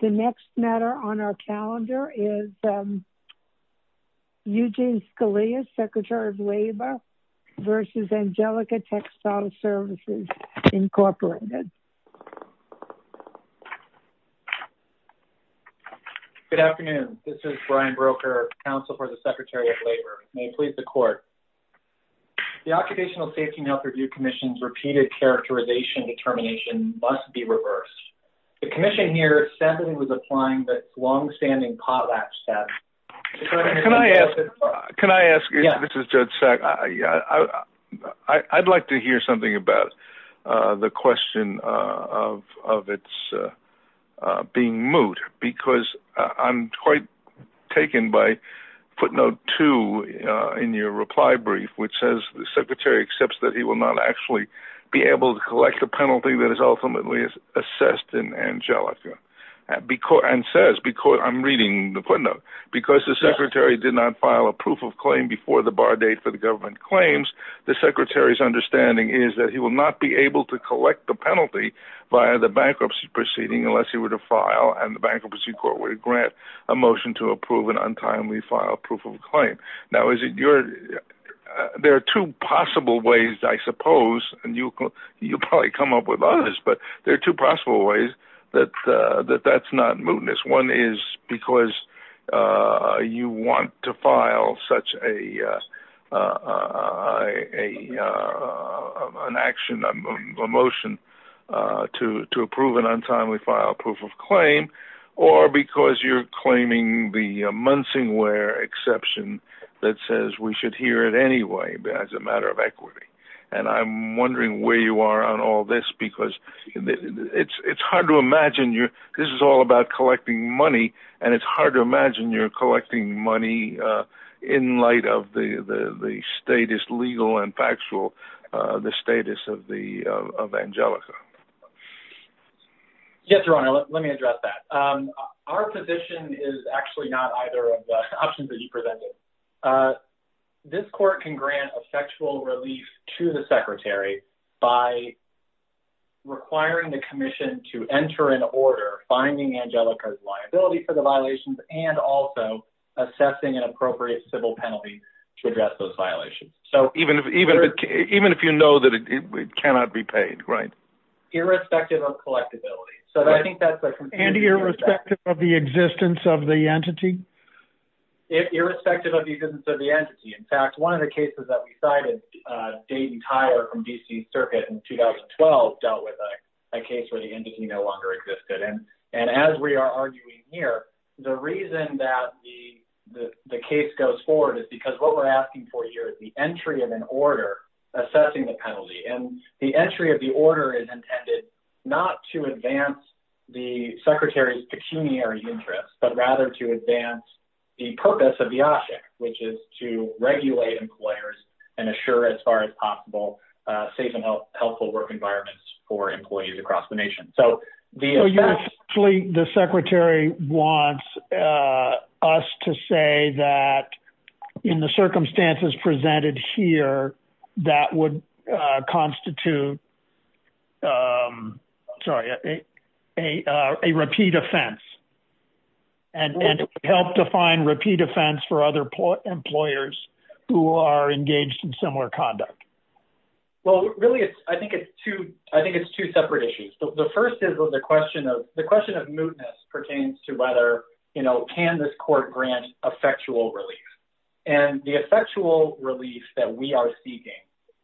The next matter on our calendar is Eugene Scalia, Secretary of Labor v. Angelica Textile Services, Incorporated. Good afternoon. This is Brian Broecker, Counsel for the Secretary of Labor, and may it please the Court. The Occupational Safety and Health Review Commission's repeated characterization determination must be reversed. The Commission here is standing with a fine that's longstanding potlatch debt. Can I ask, can I ask you, this is Judge Sack, I'd like to hear something about the question of its being moot, because I'm quite taken by footnote two in your reply brief, which says the Secretary accepts that he will not actually be able to collect a penalty that is ultimately assessed in Angelica, and says, I'm reading the footnote, because the Secretary did not file a proof of claim before the bar date for the government claims, the Secretary's understanding is that he will not be able to collect the penalty via the bankruptcy proceeding unless he were to file and the bankruptcy court were to grant a motion to approve an untimely file proof of claim. Now, there are two possible ways, I suppose, and you'll probably come up with others, but there are two possible ways that that's not mootness. One is because you want to file such an action, a motion to approve an untimely file proof of claim, or because you're claiming the Munsingware exception that says we should hear it anyway as a matter of equity. And I'm wondering where you are on all this, because it's hard to imagine, this is all about collecting money, and it's hard to imagine you're collecting money in light of the status legal and factual, the status of Angelica. Yes, Your Honor, let me address that. Our position is actually not either of the options that you presented. This court can grant a factual relief to the Secretary by requiring the commission to enter an order finding Angelica's liability for the violations and also assessing an appropriate civil penalty to address those violations. Even if you know that it cannot be paid, right? Irrespective of collectibility. So I think that's a... And irrespective of the existence of the entity? Irrespective of the existence of the entity. In fact, one of the cases that we cited, Dayton Tyler from D.C. Circuit in 2012 dealt with a case where the entity no longer existed. And as we are arguing here, the reason that the case goes forward is because what we're doing is an entry of an order assessing the penalty, and the entry of the order is intended not to advance the Secretary's pecuniary interests, but rather to advance the purpose of the object, which is to regulate employers and assure, as far as possible, safe and helpful work environments for employees across the nation. So the... There's nothing here that would constitute, sorry, a repeat offense and help define repeat offense for other employers who are engaged in similar conduct. Well, really, I think it's two separate issues. The first is the question of mootness pertains to whether, you know, can this court grant effectual relief? And the effectual relief that we are seeking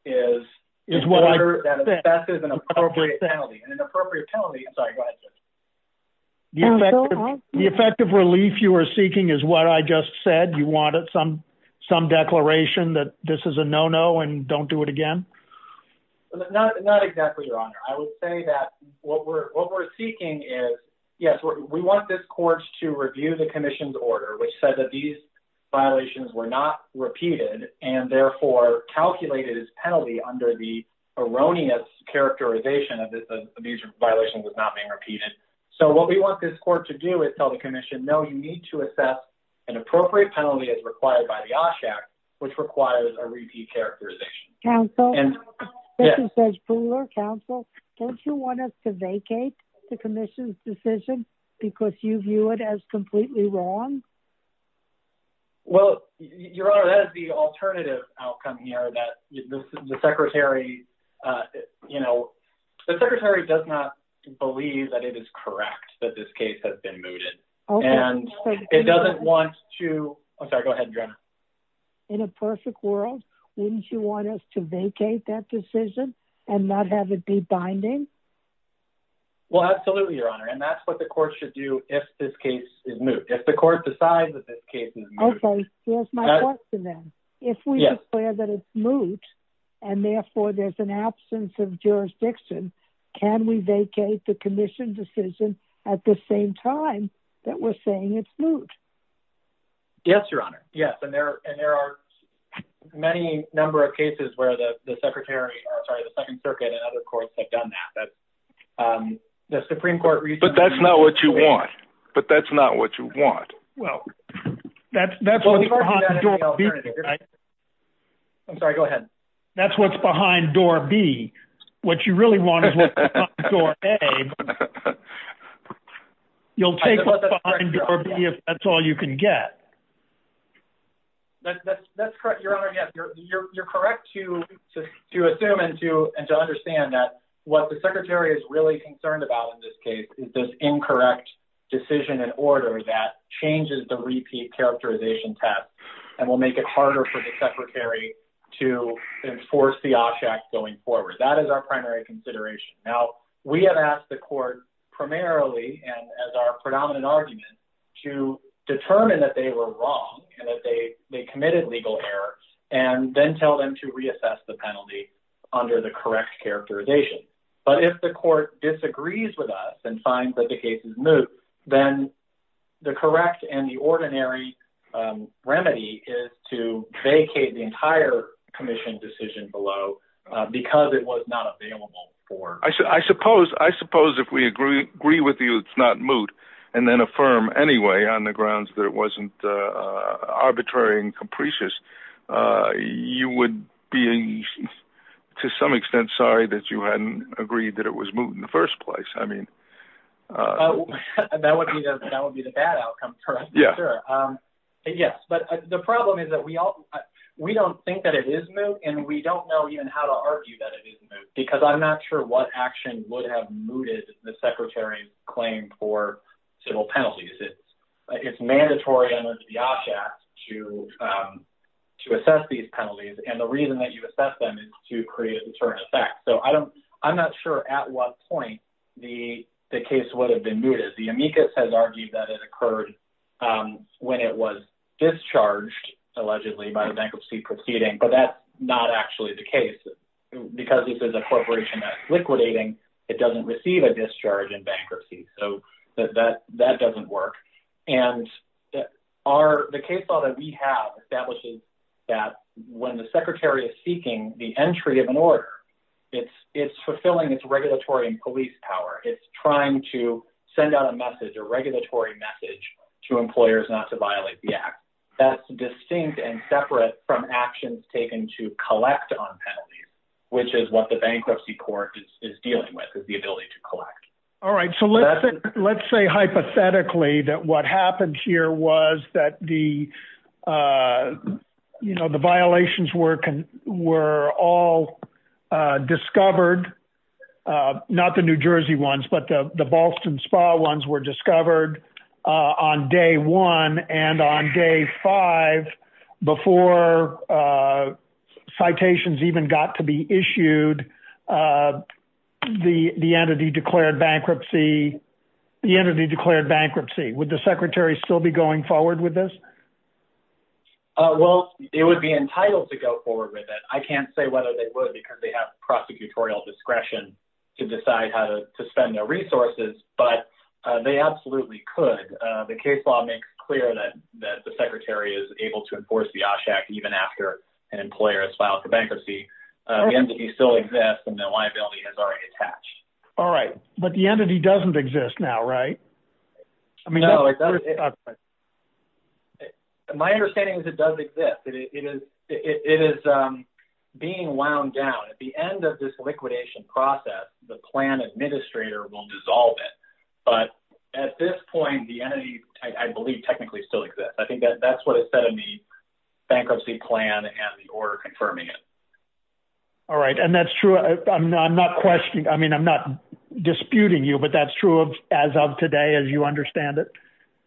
is an order that assesses an appropriate penalty. And an appropriate penalty... I'm sorry, go ahead, sir. The effective relief you are seeking is what I just said? You wanted some declaration that this is a no-no and don't do it again? Not exactly, Your Honor. I would say that what we're seeking is, yes, we want this court to review the commission's decision that these violations were not repeated and, therefore, calculated as penalty under the erroneous characterization of these violations as not being repeated. So what we want this court to do is tell the commission, no, you need to assess an appropriate penalty as required by the OSHA Act, which requires a repeat characterization. Counsel? Yes. Judge Buhler? Counsel? Don't you want us to vacate the commission's decision because you view it as completely wrong? Well, Your Honor, that is the alternative outcome here, that the Secretary, you know, the Secretary does not believe that it is correct that this case has been mooted. And it doesn't want to... I'm sorry, go ahead, Your Honor. In a perfect world, wouldn't you want us to vacate that decision and not have it be binding? Well, absolutely, Your Honor. If the court decides that this case is moot... Okay, here's my question then. Yes. If we declare that it's moot and, therefore, there's an absence of jurisdiction, can we vacate the commission's decision at the same time that we're saying it's moot? Yes, Your Honor, yes. And there are many number of cases where the Secretary, or, sorry, the Second Circuit and other courts have done that. The Supreme Court recently... But that's not what you want. But that's not what you want. Well, that's what's behind door B. I'm sorry, go ahead. That's what's behind door B. What you really want is what's behind door A. You'll take what's behind door B if that's all you can get. That's correct, Your Honor, yes. You're correct to assume and to understand that what the Secretary is really concerned about in this case is this incorrect decision and order that changes the repeat characterization test and will make it harder for the Secretary to enforce the Osh Act going forward. That is our primary consideration. Now, we have asked the court primarily, and as our predominant argument, to determine that they were wrong and that they committed legal error and then tell them to reassess the penalty under the correct characterization. But if the court disagrees with us and finds that the case is moot, then the correct and the ordinary remedy is to vacate the entire commission decision below because it was not available for... I suppose if we agree with you it's not moot and then affirm anyway on the grounds that it wasn't arbitrary and capricious, you would be, to some extent, sorry that you hadn't agreed that it was moot in the first place. I mean... That would be the bad outcome for us, for sure. Yes, but the problem is that we don't think that it is moot and we don't know even how to argue that it is moot because I'm not sure what action would have mooted the Secretary's claim for civil penalties. It's mandatory under the OPS Act to assess these penalties, and the reason that you assess them is to create a deterrent effect. So I'm not sure at what point the case would have been mooted. The amicus has argued that it occurred when it was discharged, allegedly, by the bankruptcy proceeding, but that's not actually the case because this is a corporation that's liquidating. It doesn't receive a discharge in bankruptcy. So that doesn't work, and the case law that we have establishes that when the Secretary is seeking the entry of an order, it's fulfilling its regulatory and police power. It's trying to send out a message, a regulatory message, to employers not to violate the act. That's distinct and separate from actions taken to collect on penalties, which is what the bankruptcy court is dealing with, is the ability to collect. All right. So let's say hypothetically that what happened here was that the, you know, the violations were all discovered, not the New Jersey ones, but the Ballston Spa ones were discovered on day one and on day five before citations even got to be issued. The entity declared bankruptcy. The entity declared bankruptcy. Would the Secretary still be going forward with this? Well, it would be entitled to go forward with it. I can't say whether they would because they have prosecutorial discretion to decide how to spend their resources, but they absolutely could. The case law makes clear that the Secretary is able to enforce the OSHAC even after an employer has filed for bankruptcy. The entity still exists, and the liability is already attached. All right. But the entity doesn't exist now, right? No, it doesn't. My understanding is it does exist. It is being wound down. At the end of this liquidation process, the plan administrator will dissolve it. But at this point, the entity, I believe, technically still exists. I think that's what is said in the bankruptcy plan and the order confirming it. All right. And that's true. I'm not questioning. I mean, I'm not disputing you, but that's true as of today as you understand it?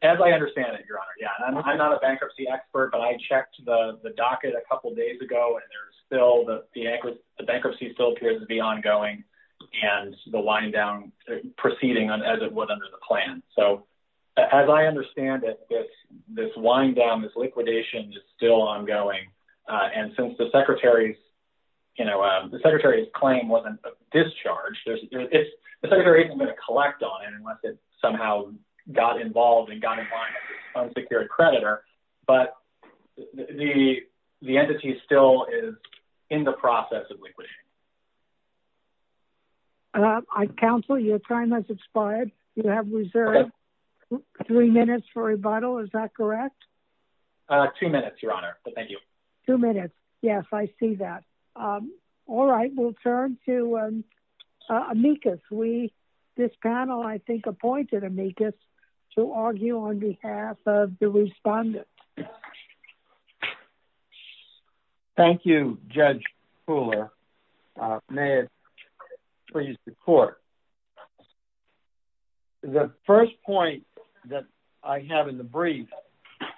As I understand it, Your Honor, yeah. I'm not a bankruptcy expert, but I checked the docket a couple days ago, and there's still the bankruptcy still appears to be ongoing and the wind down proceeding as it would under the plan. So as I understand it, this wind down, this liquidation is still ongoing. And since the Secretary's claim wasn't discharged, the Secretary isn't going to collect on it unless it somehow got involved and got in line with an unsecured creditor. But the entity still is in the process of liquidation. I counsel your time has expired. You have reserved three minutes for rebuttal. Is that correct? Two minutes, Your Honor. Thank you. Two minutes. Yes, I see that. All right. We'll turn to amicus. This panel, I think, appointed amicus to argue on behalf of the respondent. Thank you, Judge Fuller. May it please the court. The first point that I have in the brief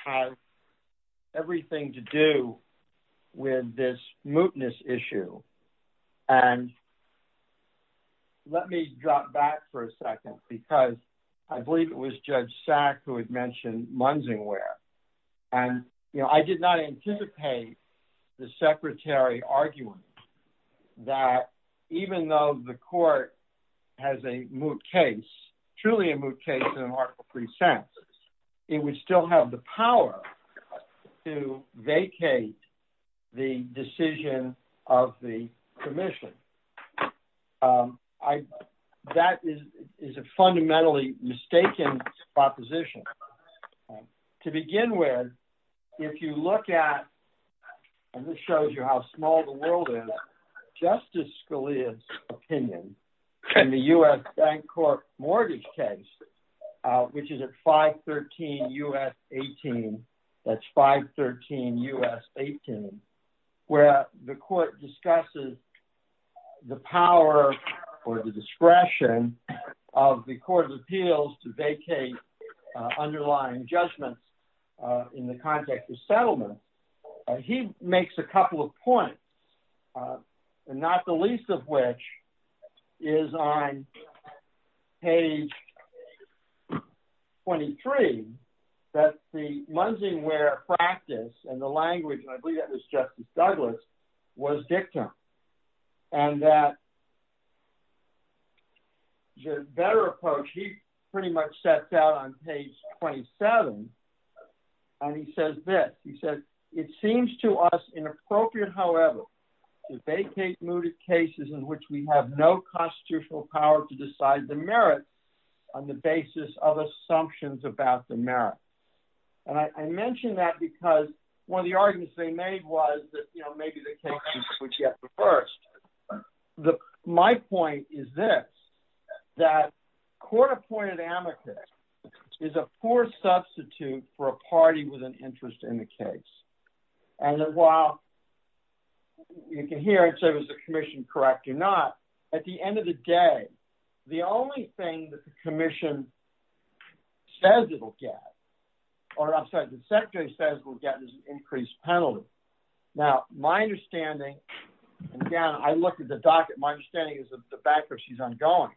has everything to do with this mootness issue. And let me drop back for a second because I believe it was Judge Sack who had mentioned Munzingware. And, you know, I did not anticipate the Secretary arguing that even though the court has a moot case, truly a moot case in Article 3 census, it would still have the power to issue a statutory commission. That is a fundamentally mistaken proposition. To begin with, if you look at, and this shows you how small the world is, Justice Scalia's opinion in the U.S. bank court mortgage case, which is at 513 U.S. 18, that's 513 U.S. 18, where the court discusses the power or the discretion of the court of appeals to vacate underlying judgments in the context of settlement. He makes a couple of points, not the least of which is on page 23 that the Munzingware practice and the language, and I believe that was Justice Douglas, was dictum. And that the better approach he pretty much sets out on page 27, and he says this. He says, it seems to us inappropriate, however, to vacate mooted cases in which we have no constitutional power to decide the merit on the basis of assumptions about the merit. And I mention that because one of the arguments they made was that, you know, maybe the case would get reversed. My point is this, that court-appointed amicus is a poor substitute for a party with an interest in the case. And that while you can hear, I'd say, was the commission correct or not, at the end of the day, the only thing that the commission says it will get, or I'm sorry, the secretary says it will get is an increased penalty. Now, my understanding, again, I looked at the docket, my understanding is that the bankruptcy is ongoing.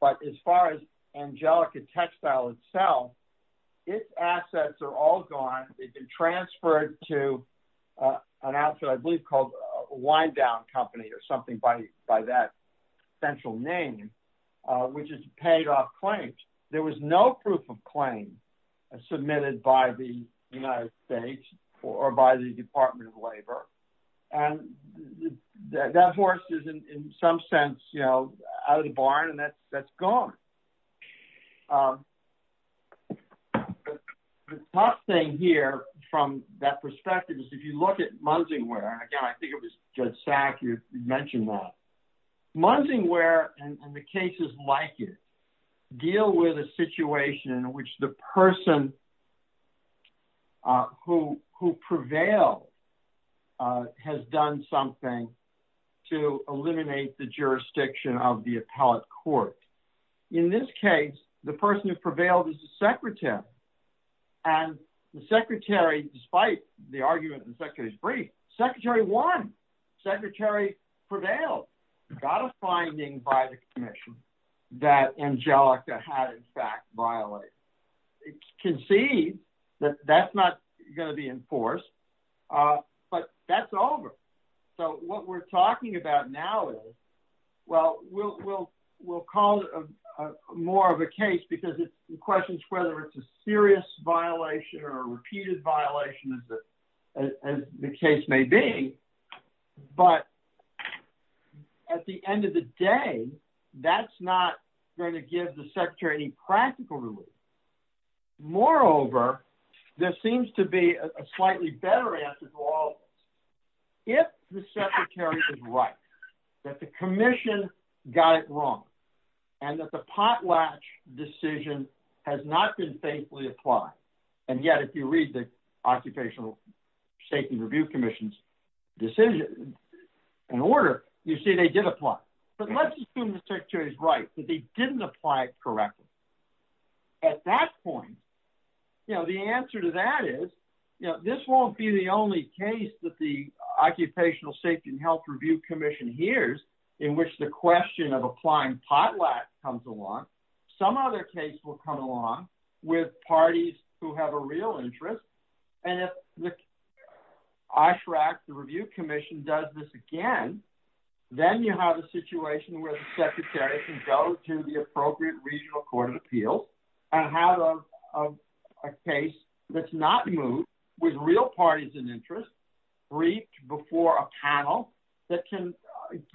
But as far as Angelica Textile itself, its assets are all gone. They've been transferred to an outfit I believe called Wind Down Company or something by that central name, which is paid off claims. There was no proof of claims submitted by the United States or by the Department of Labor. And that horse is in some sense, you know, out of the barn and that's gone. The tough thing here from that perspective is if you look at Munsingware, again, I think it was Judge Sack who mentioned that. Munsingware, and the cases like it, deal with a situation in which the person who prevailed has done something to eliminate the jurisdiction of the appellate court. In this case, the person who prevailed is the secretary. And the secretary, despite the argument the secretary's brief, secretary won. Secretary prevailed, got a finding by the commission that Angelica had in fact violated. It's conceived that that's not going to be enforced, but that's over. So what we're talking about now is, well, we'll call it more of a case because it questions whether it's a serious violation or a repeated violation as the case may be. But at the end of the day, that's not going to give the secretary any practical relief. Moreover, there seems to be a slightly better answer to all of this. If the secretary is right, that the commission got it wrong, and that the potlatch decision has not been faithfully applied, and yet if you read the Occupational Safety and Review Commission's decision and order, you see they did apply. But let's assume the secretary's right, that they didn't apply it correctly. At that point, the answer to that is, this won't be the only case that the Occupational Safety and Health Review Commission hears in which the question of applying potlatch comes along. Some other case will come along with parties who have a real interest. And if the OSHRAC, the Review Commission, does this again, then you have a situation where the secretary can go to the appropriate regional court of appeals and have a case that's not moved with real parties in interest briefed before a panel that can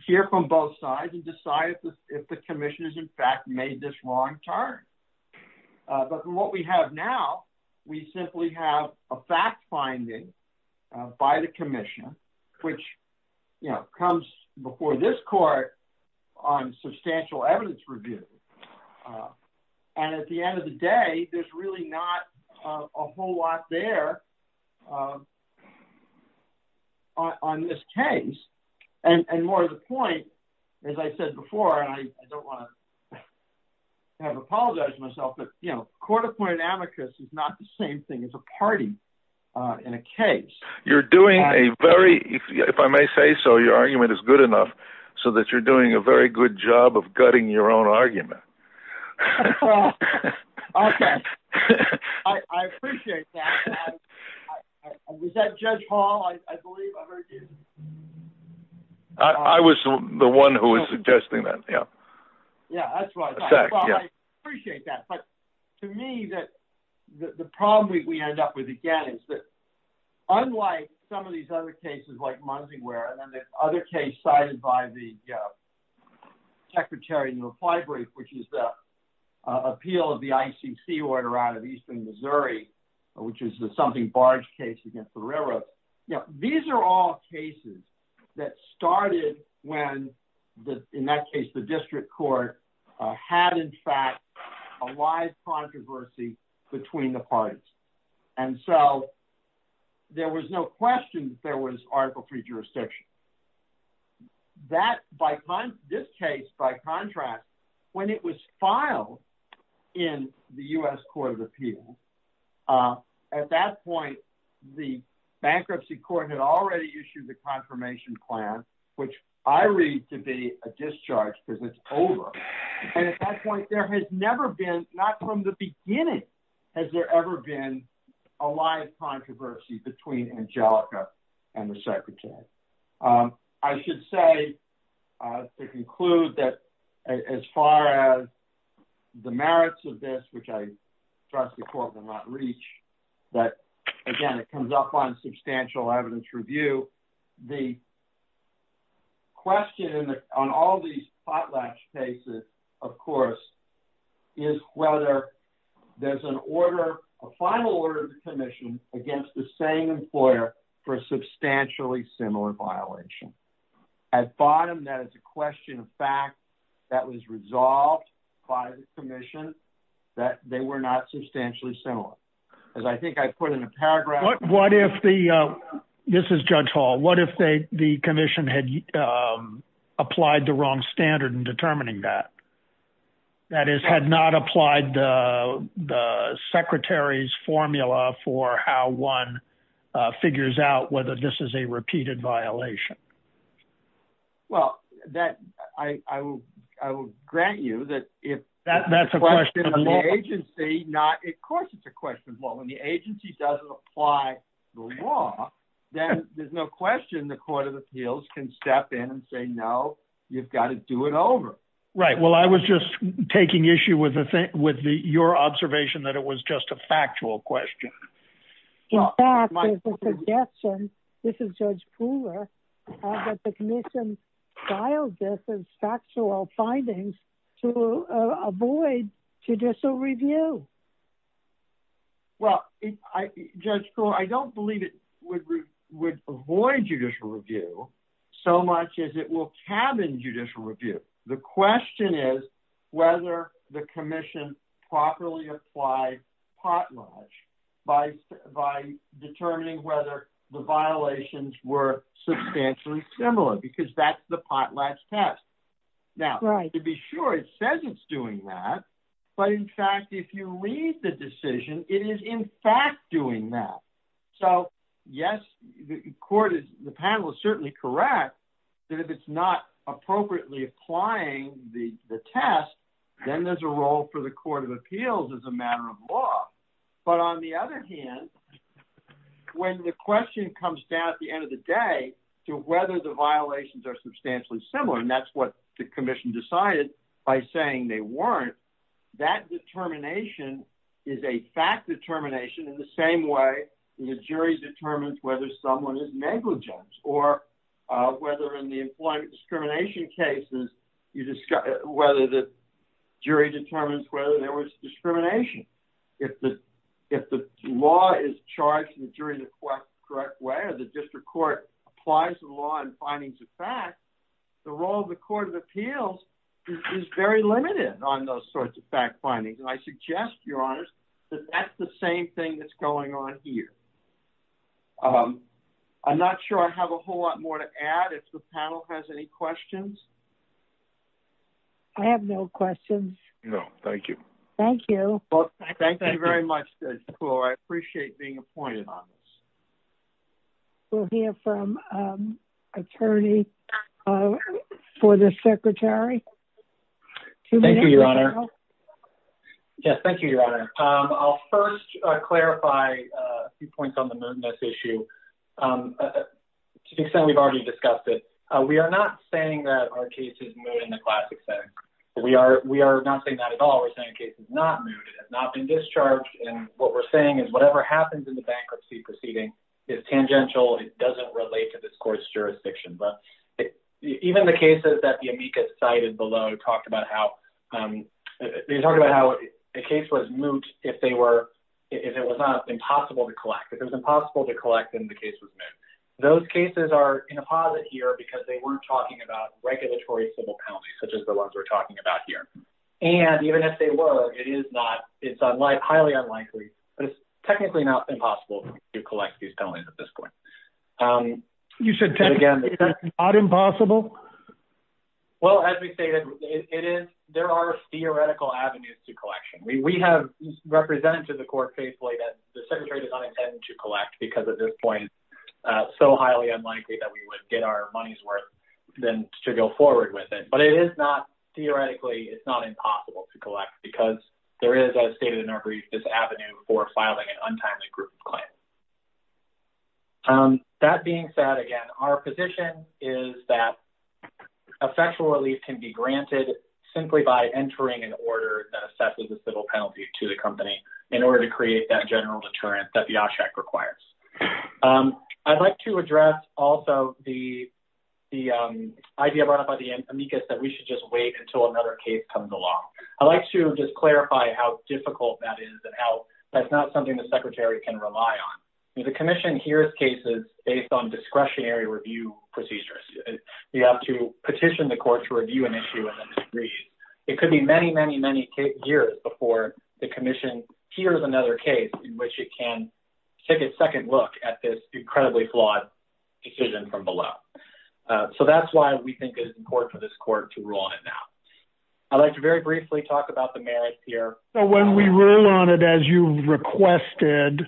hear from both sides and decide if the commission has in fact made this wrong turn. But from what we have now, we simply have a fact finding by the commission, which comes before this court on substantial evidence review. And at the end of the day, there's really not a whole lot there on this case. And more to the point, as I said before, and I don't want to have to apologize myself, but court-appointed amicus is not the same thing as a party in a case. You're doing a very, if I may say so, your argument is good enough so that you're doing a very good job of gutting your own argument. Okay. I appreciate that. Was that Judge Hall? I believe I heard you. I was the one who was suggesting that. Yeah. Yeah, that's right. I appreciate that. But to me, the problem we end up with again is that unlike some of these other cases like Munsingware and then the other case cited by the secretary in the reply brief, which is the appeal of the ICC order out of eastern Missouri, which is the something barge case against the railroad, these are all cases that started when, in that case, the district court had in fact a live controversy between the parties. And so there was no question that there was Article III jurisdiction. This case, by contract, when it was filed in the U.S. Court of Appeals, at that point, the bankruptcy court had already issued the confirmation plan, which I read to be a discharge because it's over. And at that point, there has never been, not from the beginning, has there ever been a live controversy between Angelica and the secretary. I should say to conclude that as far as the merits of this, which I trust the court will not reach, that again, it comes up on substantial evidence review. The question on all these potlatch cases, of course, is whether there's an order, a case against the same employer for a substantially similar violation. At bottom, that is a question of fact that was resolved by the commission that they were not substantially similar. As I think I put in a paragraph. What if the, this is Judge Hall, what if the commission had applied the wrong standard in determining that? That is, had not applied the secretary's formula for how one figures out whether this is a repeated violation? Well, that, I will grant you that if that's a question of the agency, not, of course, it's a question of law. When the agency doesn't apply the law, then there's no question the Court of Appeals can step in and say, no, you've got to do it over. Right. Well, I was just taking issue with your observation that it was just a factual question. In fact, there's a suggestion, this is Judge Krueger, that the commission filed this as factual findings to avoid judicial review. Well, Judge Krueger, I don't believe it would avoid judicial review so much as it will cabin judicial review. The question is whether the commission properly applied potlatch by determining whether the violations were substantially similar, because that's the potlatch test. Now, to be sure, it says it's doing that, but in fact, if you read the decision, it is in fact doing that. So, yes, the panel is certainly correct that if it's not appropriately applying the test, then there's a role for the Court of Appeals as a matter of law. But on the other hand, when the question comes down at the end of the day to whether the violations are substantially similar, and that's what the commission decided by saying they weren't, that determination is a fact determination in the same way the jury determines whether someone is negligent, or whether in the employment discrimination cases, whether the jury determines whether there was discrimination. If the law is charged and the jury in the correct way, or the district court applies the law and findings of fact, the role of the Court of Appeals is very limited on those sorts of fact findings. And I suggest, Your Honors, that that's the same thing that's going on here. I'm not sure I have a whole lot more to add. If the panel has any questions. I have no questions. No, thank you. Thank you. Well, thank you very much, Judge Kloh. I appreciate being appointed on this. We'll hear from an attorney for the secretary. Thank you, Your Honor. Yes, thank you, Your Honor. I'll first clarify a few points on the mootness issue to the extent we've already discussed it. We are not saying that our case is moot in the classic sense. We are not saying that at all. We're saying the case is not moot. It has not been discharged. And what we're saying is whatever happens in the bankruptcy proceeding is tangential. It doesn't relate to this court's jurisdiction. But even the cases that the amicus cited below talked about how the case was moot if it was not impossible to collect. If it was impossible to collect, then the case was moot. Those cases are in a posit here because they weren't talking about regulatory civil penalties, such as the ones we're talking about here. And even if they were, it's highly unlikely, but it's technically not impossible to collect these penalties at this point. You said technically not impossible? Well, as we stated, there are theoretical avenues to collection. We have represented to the court faithfully that the secretary does not intend to collect because at this point it's so highly unlikely that we would get our money's worth to go forward with it. But theoretically, it's not impossible to collect because there is, as stated in our brief, this avenue for filing an untimely group of claims. That being said, again, our position is that effectual relief can be granted simply by entering an order that assesses the civil penalty to the company in order to create that general deterrent that the OSHAC requires. I'd like to address also the idea brought up by the amicus that we should just wait until another case comes along. I'd like to just clarify how difficult that is and how that's not something the secretary can rely on. The commission hears cases based on discretionary review procedures. You have to petition the court to review an issue and then disagree. It could be many, many, many years before the commission hears another case in which it can take a second look at this incredibly flawed decision from below. So that's why we think it's important for this court to rule on it now. I'd like to very briefly talk about the merits here. When we rule on it, as you requested,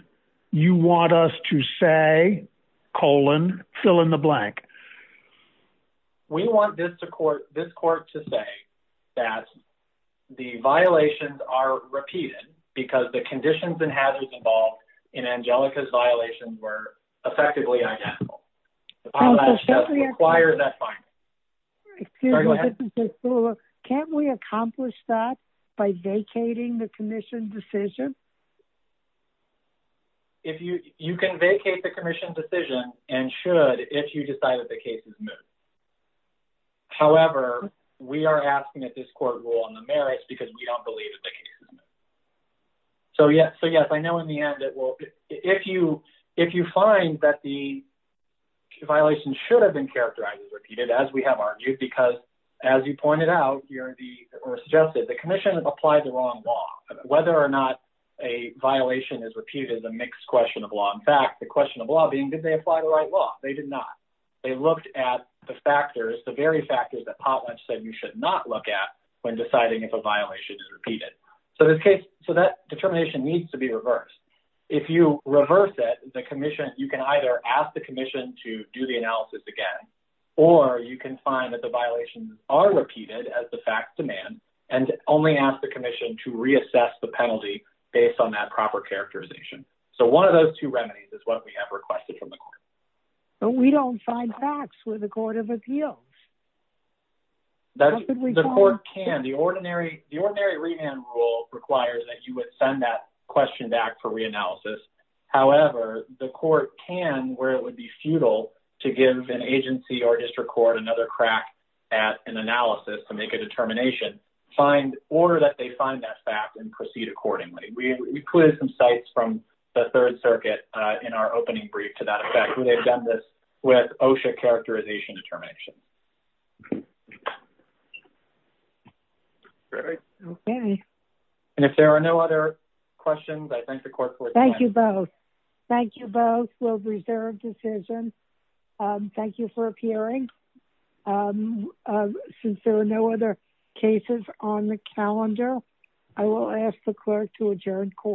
you want us to say, colon, fill in the blank. We want this court to say that the violations are repeated because the conditions and hazards involved in Angelica's violations were effectively identical. That requires that finding. Can't we accomplish that by vacating the commission decision? You can vacate the commission decision and should if you decide that the case is moot. However, we are asking that this court rule on the merits because we don't believe that the case is moot. So yes, I know in the end, if you find that the violation should have been characterized as repeated, as we have argued, because as you pointed out or suggested, the commission has applied the wrong law. Whether or not a violation is repeated is a mixed question of law. In fact, the question of law being, did they apply the right law? They did not. They looked at the factors, the very factors that Potlatch said you should not look at when deciding if a violation is repeated. So that determination needs to be reversed. If you reverse it, you can either ask the commission to do the analysis again or you can find that the violations are repeated as the facts demand and only ask the commission to reassess the penalty based on that proper characterization. So one of those two remedies is what we have requested from the court. But we don't find facts with the Court of Appeals. The court can. The ordinary remand rule requires that you would send that question back for reanalysis. However, the court can, where it would be futile to give an agency or district court another crack at an analysis to make a determination, order that they find that fact and proceed accordingly. We included some sites from the Third Circuit in our opening brief to that effect. We have done this with OSHA characterization and determination. And if there are no other questions, I thank the court for attending. Thank you both. Thank you both. We'll reserve decisions. Thank you for appearing. Since there are no other cases on the calendar, I will ask the clerk to adjourn court.